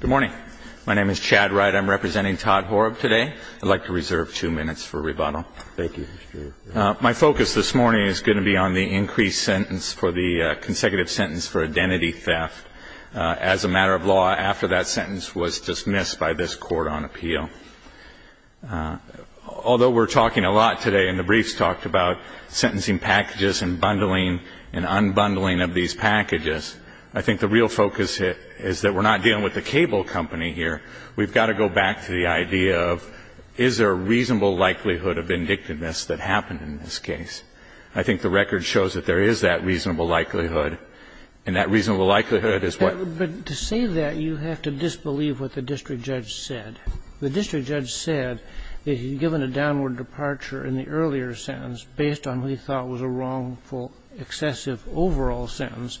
Good morning. My name is Chad Wright. I'm representing Todd Horob today. I'd like to reserve two minutes for rebuttal. Thank you. My focus this morning is going to be on the increased sentence for the consecutive sentence for identity theft. As a matter of law, after that sentence was dismissed by this Court on appeal, although we're talking a lot today and the briefs talked about sentencing packages and bundling and unbundling of these packages, I think the real focus is that we're not dealing with the cable company here. We've got to go back to the idea of, is there a reasonable likelihood of vindictiveness that happened in this case? I think the record shows that there is that reasonable likelihood, and that reasonable likelihood is what — But to say that, you have to disbelieve what the district judge said. The district judge said that he'd given a downward departure in the earlier sentence based on what he thought was a wrongful, excessive overall sentence,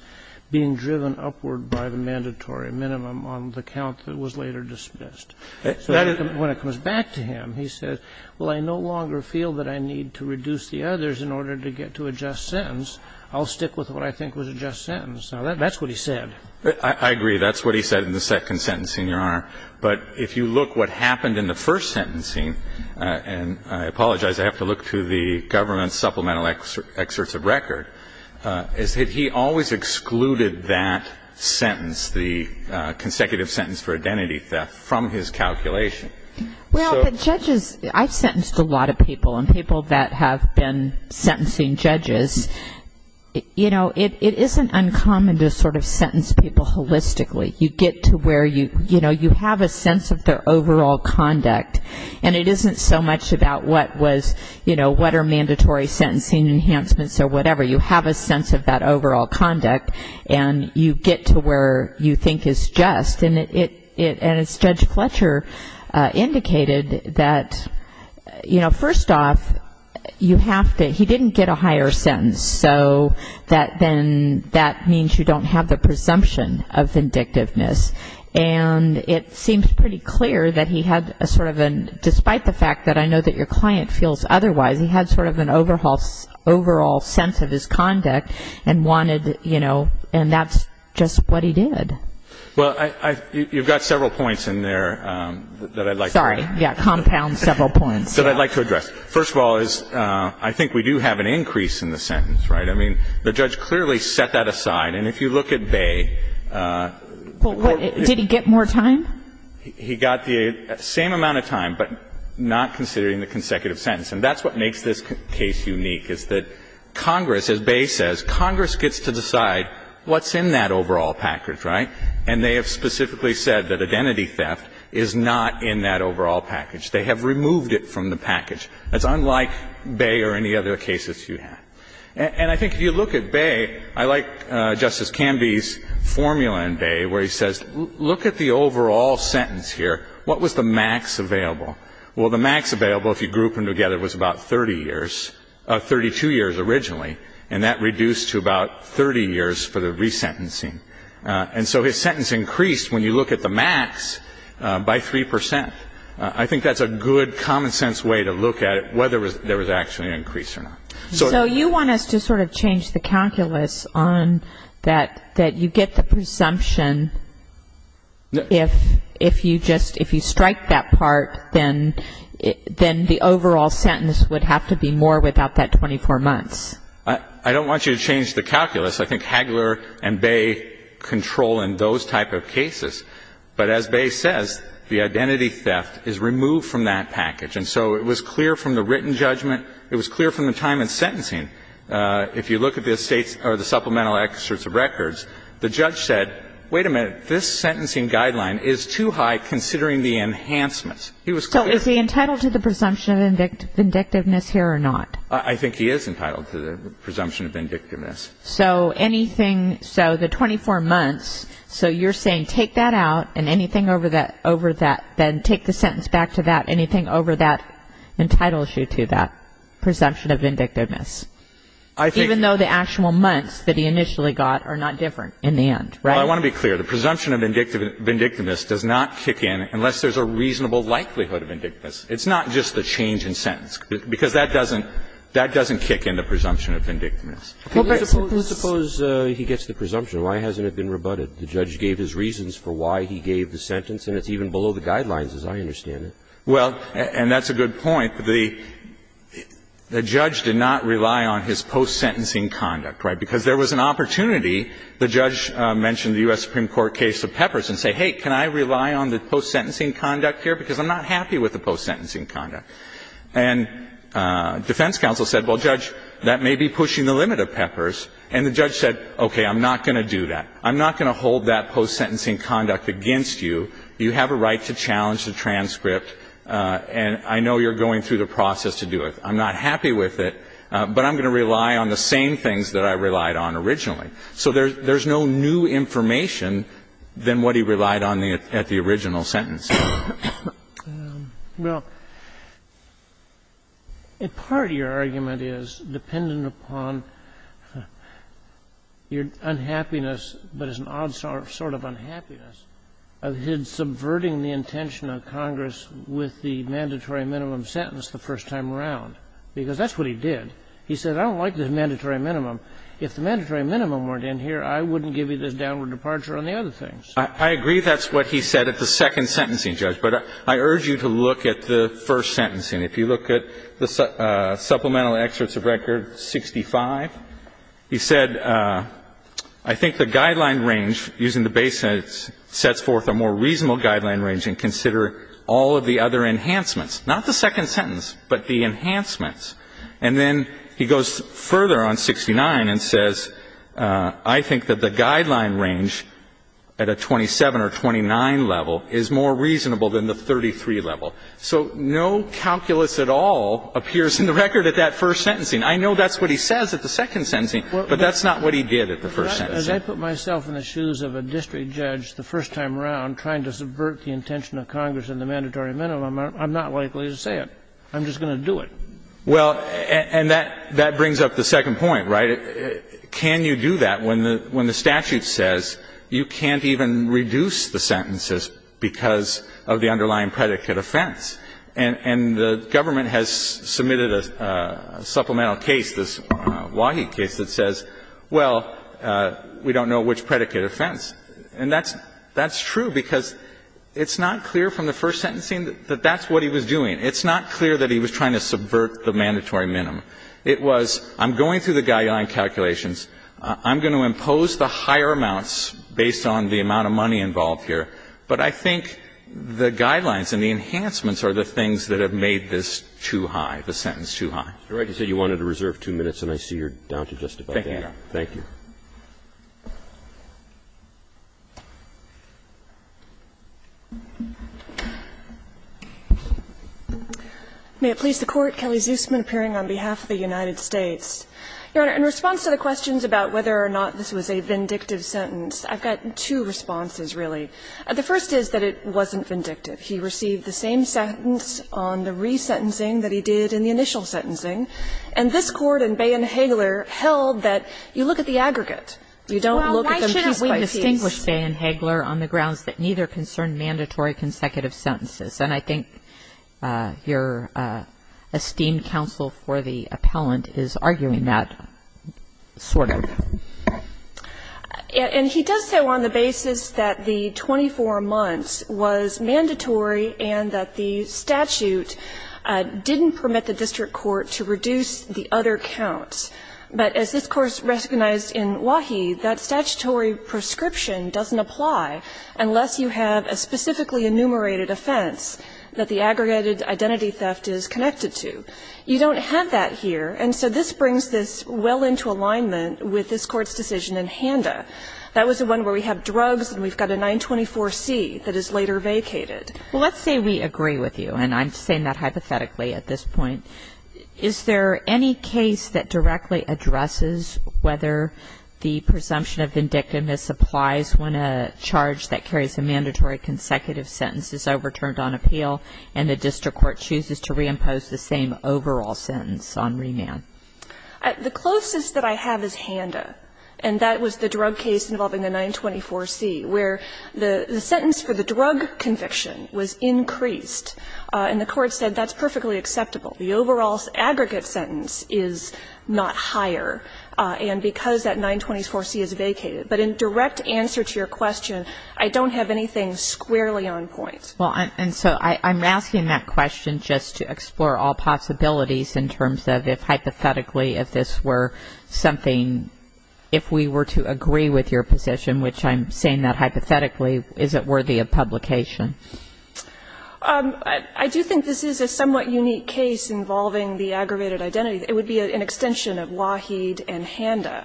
being driven upward by the mandatory minimum on the count that was later dismissed. So when it comes back to him, he says, Well, I no longer feel that I need to reduce the others in order to get to a just sentence. I'll stick with what I think was a just sentence. Now, that's what he said. That's what he said in the second sentencing, Your Honor. But if you look what happened in the first sentencing, and I apologize, I have to look to the government's supplemental excerpts of record, is that he always excluded that sentence, the consecutive sentence for identity theft, from his calculation. Well, the judges — I've sentenced a lot of people, and people that have been sentencing judges. You know, it isn't uncommon to sort of sentence people holistically. You get to where, you know, you have a sense of their overall conduct. And it isn't so much about what was, you know, what are mandatory sentencing enhancements or whatever. You have a sense of that overall conduct, and you get to where you think is just. And as Judge Fletcher indicated, that, you know, first off, you have to — he didn't get a higher sentence. So that then — that means you don't have the presumption of vindictiveness. And it seems pretty clear that he had a sort of a — despite the fact that I know that your client feels otherwise, he had sort of an overall sense of his conduct and wanted, you know — and that's just what he did. Well, I — you've got several points in there that I'd like to — Sorry, yeah, compound several points. That I'd like to address. First of all is, I think we do have an increase in the sentence, right? I mean, the judge clearly set that aside. And if you look at Baye — Did he get more time? He got the same amount of time, but not considering the consecutive sentence. And that's what makes this case unique, is that Congress, as Baye says, Congress gets to decide what's in that overall package, right? And they have specifically said that identity theft is not in that overall package. They have removed it from the package. That's unlike Baye or any other cases you have. And I think if you look at Baye, I like Justice Canby's formula in Baye where he says, look at the overall sentence here. What was the max available? Well, the max available, if you group them together, was about 30 years — 32 years originally. And that reduced to about 30 years for the resentencing. And so his sentence increased, when you look at the max, by 3 percent. I think that's a good, common-sense way to look at it, whether there was actually an increase or not. So you want us to sort of change the calculus on that you get the presumption if you just — if you strike that part, then the overall sentence would have to be more without that 24 months. I don't want you to change the calculus. I think Hagler and Baye control in those type of cases. But as Baye says, the identity theft is removed from that package. And so it was clear from the written judgment. It was clear from the time in sentencing. If you look at the supplemental excerpts of records, the judge said, wait a minute, this sentencing guideline is too high considering the enhancements. He was clear. So is he entitled to the presumption of vindictiveness here or not? I think he is entitled to the presumption of vindictiveness. So anything — so the 24 months, so you're saying take that out and anything over that, then take the sentence back to that, anything over that entitles you to that presumption of vindictiveness. I think — Even though the actual months that he initially got are not different in the end, right? Well, I want to be clear. The presumption of vindictiveness does not kick in unless there's a reasonable likelihood of vindictiveness. It's not just the change in sentence, because that doesn't — that doesn't kick in the presumption of vindictiveness. Please suppose he gets the presumption. Why hasn't it been rebutted? The judge gave his reasons for why he gave the sentence, and it's even below the guidelines, as I understand it. Well, and that's a good point. The judge did not rely on his post-sentencing conduct, right? Because there was an opportunity. The judge mentioned the U.S. Supreme Court case of Peppers and said, hey, can I rely on the post-sentencing conduct here? Because I'm not happy with the post-sentencing conduct. And defense counsel said, well, Judge, that may be pushing the limit of Peppers. And the judge said, okay, I'm not going to do that. I'm not going to hold that post-sentencing conduct against you. You have a right to challenge the transcript, and I know you're going through the process to do it. I'm not happy with it, but I'm going to rely on the same things that I relied on originally. So there's no new information than what he relied on at the original sentence. Well, in part your argument is dependent upon your unhappiness, but it's an odd sort of unhappiness, of him subverting the intention of Congress with the mandatory minimum sentence the first time around, because that's what he did. He said, I don't like the mandatory minimum. If the mandatory minimum weren't in here, I wouldn't give you this downward departure on the other things. I agree that's what he said at the second sentencing, Judge. But I urge you to look at the first sentencing. If you look at the supplemental excerpts of record 65, he said, I think the guideline range using the base sentence sets forth a more reasonable guideline range and consider all of the other enhancements. Not the second sentence, but the enhancements. And then he goes further on 69 and says, I think that the guideline range at a 27 or 29 level is more reasonable than the 33 level. So no calculus at all appears in the record at that first sentencing. I know that's what he says at the second sentencing, but that's not what he did at the first sentencing. As I put myself in the shoes of a district judge the first time around trying to subvert the intention of Congress and the mandatory minimum, I'm not likely to say it. I'm just going to do it. Well, and that brings up the second point, right? Can you do that when the statute says you can't even reduce the sentences because of the underlying predicate offense? And the government has submitted a supplemental case, this Wahy case, that says, well, we don't know which predicate offense. And that's true, because it's not clear from the first sentencing that that's what he was doing. It's not clear that he was trying to subvert the mandatory minimum. It was, I'm going through the guideline calculations. I'm going to impose the higher amounts based on the amount of money involved here, but I think the guidelines and the enhancements are the things that have made this too high, the sentence too high. Roberts. You wanted to reserve two minutes, and I see you're down to just about that. Thank you. May it please the Court. Kelly Zusman appearing on behalf of the United States. Your Honor, in response to the questions about whether or not this was a vindictive sentence, I've got two responses, really. The first is that it wasn't vindictive. He received the same sentence on the resentencing that he did in the initial sentencing. And this Court in Bay and Hagler held that you look at the aggregate. You don't look at them piece by piece. Well, why shouldn't we distinguish Bay and Hagler on the grounds that neither concern mandatory consecutive sentences? And I think your esteemed counsel for the appellant is arguing that sort of. And he does so on the basis that the 24 months was mandatory and that the statute didn't permit the district court to reduce the other counts. But as this Court recognized in Wahi, that statutory prescription doesn't apply unless you have a specifically enumerated offense that the aggregated identity theft is connected to. You don't have that here. And so this brings this well into alignment with this Court's decision in Handa. That was the one where we have drugs and we've got a 924C that is later vacated. Well, let's say we agree with you. And I'm saying that hypothetically at this point. Is there any case that directly addresses whether the presumption of vindictiveness applies when a charge that carries a mandatory consecutive sentence is overturned on appeal and the district court chooses to reimpose the same overall sentence on remand? The closest that I have is Handa. And that was the drug case involving the 924C where the sentence for the drug conviction was increased. And the Court said that's perfectly acceptable. The overall aggregate sentence is not higher. And because that 924C is vacated. But in direct answer to your question, I don't have anything squarely on point. Well, and so I'm asking that question just to explore all possibilities in terms of if hypothetically if this were something, if we were to agree with your position, which I'm saying that hypothetically, is it worthy of publication? I do think this is a somewhat unique case involving the aggravated identity. It would be an extension of Waheed and Handa.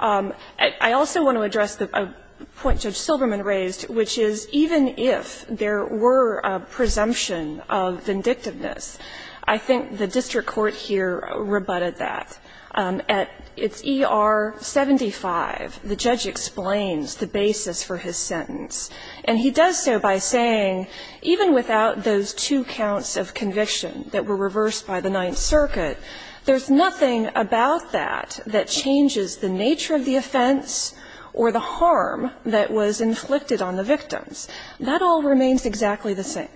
I also want to address the point Judge Silberman raised, which is even if there were a presumption of vindictiveness, I think the district court here rebutted that. At its ER-75, the judge explains the basis for his sentence. And he does so by saying even without those two counts of conviction that were reversed by the Ninth Circuit, there's nothing about that that changes the nature of the offense or the harm that was inflicted on the victims. That all remains exactly the same.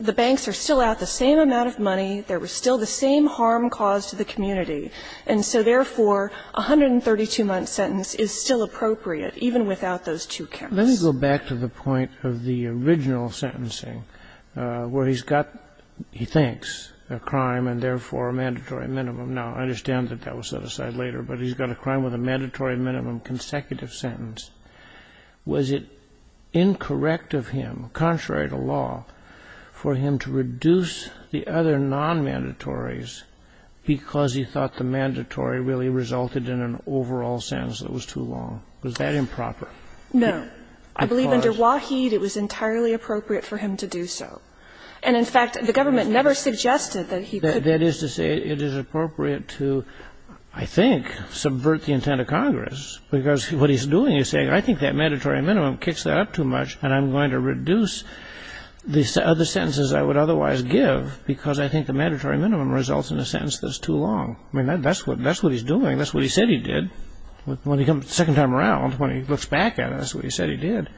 The banks are still out the same amount of money. There was still the same harm caused to the community. And so therefore, a 132-month sentence is still appropriate even without those two counts. Let me go back to the point of the original sentencing where he's got, he thinks, a crime and therefore a mandatory minimum. Now, I understand that that was set aside later, but he's got a crime with a mandatory minimum consecutive sentence. Was it incorrect of him, contrary to law, for him to reduce the other nonmandatories because he thought the mandatory really resulted in an overall sentence that was too long? Was that improper? No. I believe under Waheed, it was entirely appropriate for him to do so. And in fact, the government never suggested that he could. That is to say, it is appropriate to, I think, subvert the intent of Congress, because what he's doing is saying, I think that mandatory minimum kicks that up too much and I'm going to reduce the other sentences I would otherwise give because I think the mandatory minimum results in a sentence that's too long. I mean, that's what he's doing. That's what he said he did. The second time around, when he looks back at it, that's what he said he did.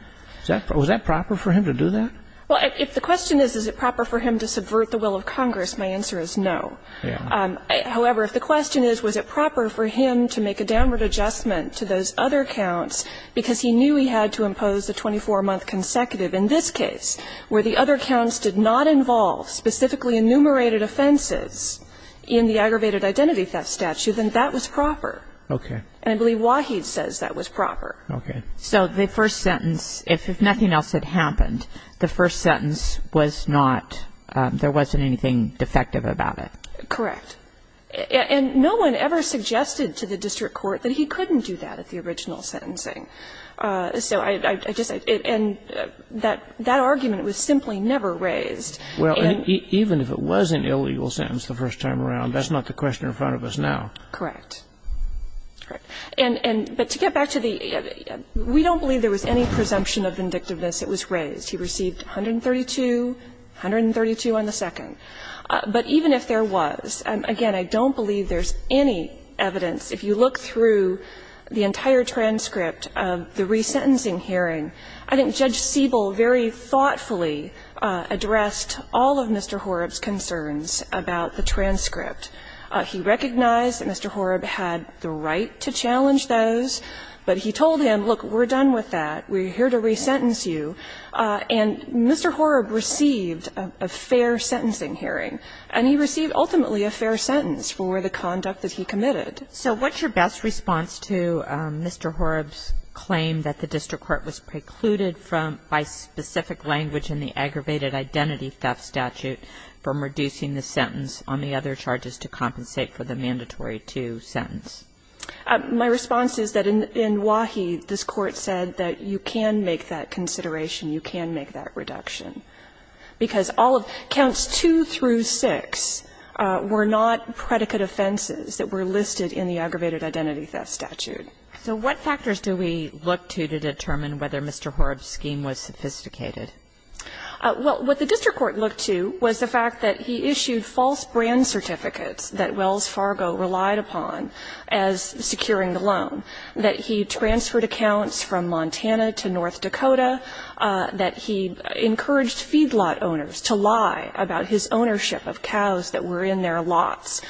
Was that proper for him to do that? Well, if the question is, is it proper for him to subvert the will of Congress, my answer is no. However, if the question is, was it proper for him to make a downward adjustment to those other counts, because he knew he had to impose the 24-month consecutive in this case, where the other counts did not involve specifically enumerated offenses in the aggravated identity theft statute, then that was proper. Okay. And I believe Waheed says that was proper. Okay. So the first sentence, if nothing else had happened, the first sentence was not there wasn't anything defective about it. Correct. And no one ever suggested to the district court that he couldn't do that at the original sentencing. So I just – and that argument was simply never raised. Well, even if it was an illegal sentence the first time around, that's not the question in front of us now. Correct. Correct. And to get back to the – we don't believe there was any presumption of vindictiveness that was raised. He received 132, 132 on the second. But even if there was, again, I don't believe there's any evidence. If you look through the entire transcript of the resentencing hearing, I think Judge Siebel very thoughtfully addressed all of Mr. Horrib's concerns about the transcript. He recognized that Mr. Horrib had the right to challenge those, but he told him, look, we're done with that, we're here to resentence you. And Mr. Horrib received a fair sentencing hearing, and he received ultimately a fair sentence for the conduct that he committed. So what's your best response to Mr. Horrib's claim that the district court was precluded from, by specific language in the aggravated identity theft statute from reducing the sentence on the other charges to compensate for the mandatory two sentence? My response is that in Wahi, this Court said that you can make that consideration, you can make that reduction, because all of counts 2 through 6 were not predicate offenses that were listed in the aggravated identity theft statute. So what factors do we look to to determine whether Mr. Horrib's scheme was sophisticated? Well, what the district court looked to was the fact that he issued false brand certificates that Wells Fargo relied upon as securing the loan, that he transferred accounts from Montana to North Dakota, that he encouraged feedlot owners to lie about his ownership of cows that were in their lots.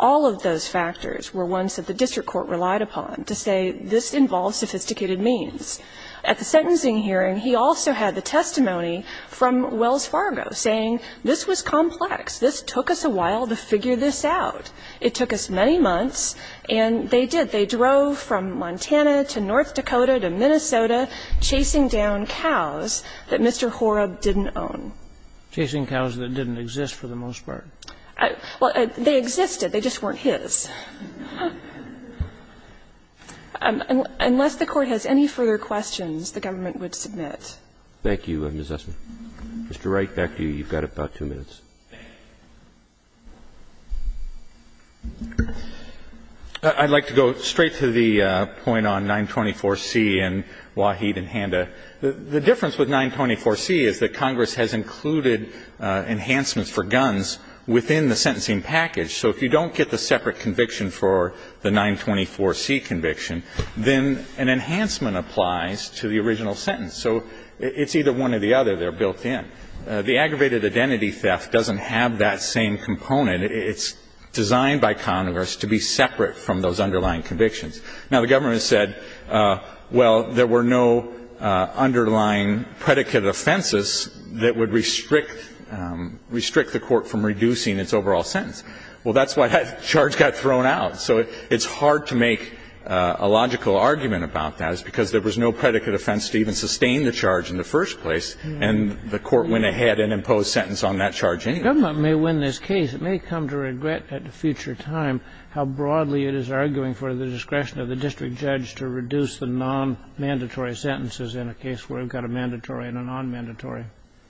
All of those factors were ones that the district court relied upon to say this involves sophisticated means. At the sentencing hearing, he also had the testimony from Wells Fargo saying this was complex, this took us a while to figure this out. It took us many months, and they did. They drove from Montana to North Dakota to Minnesota chasing down cows that Mr. Horrib didn't own. Chasing cows that didn't exist, for the most part. Well, they existed. They just weren't his. Unless the Court has any further questions, the government would submit. Thank you, Ms. Essman. Mr. Wright, back to you. You've got about two minutes. I'd like to go straight to the point on 924C and Waheed and Handa. The difference with 924C is that Congress has included enhancements for guns within the sentencing package. So if you don't get the separate conviction for the 924C conviction, then an enhancement applies to the original sentence. So it's either one or the other. They're built in. The aggravated identity theft doesn't have that same component. It's designed by Congress to be separate from those underlying convictions. Now, the government said, well, there were no underlying predicate offenses that would restrict the Court from reducing its overall sentence. Well, that's why that charge got thrown out. So it's hard to make a logical argument about that. It's because there was no predicate offense to even sustain the charge in the first place, and the Court went ahead and imposed sentence on that charge anyway. The government may win this case. It may come to regret at a future time how broadly it is arguing for the discretion of the district judge to reduce the nonmandatory sentences in a case where we've got a mandatory and a nonmandatory.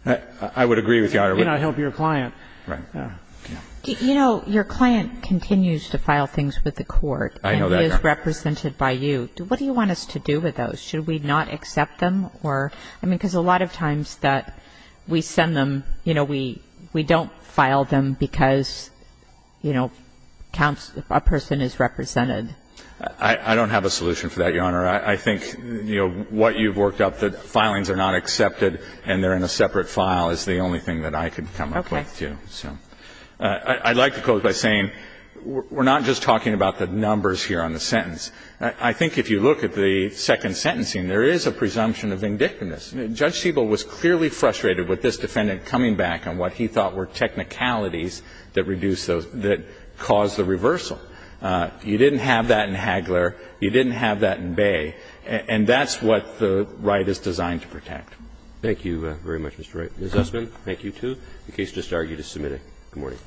I would agree with Your Honor. You cannot help your client. Right. You know, your client continues to file things with the Court. I know that, Your Honor. And he is represented by you. What do you want us to do with those? Should we not accept them? I mean, because a lot of times that we send them, you know, we don't file them because, you know, a person is represented. I don't have a solution for that, Your Honor. I think, you know, what you've worked up, that filings are not accepted and they're in a separate file is the only thing that I can come up with, too. Okay. So I'd like to close by saying we're not just talking about the numbers here on the sentence. I think if you look at the second sentencing, there is a presumption of vindictiveness. Judge Siebel was clearly frustrated with this defendant coming back on what he thought were technicalities that reduced those, that caused the reversal. You didn't have that in Hagler. You didn't have that in Bay. And that's what the right is designed to protect. Thank you very much, Mr. Wright. Mr. Zussman, thank you, too, in case you just argued a submitted. Good morning.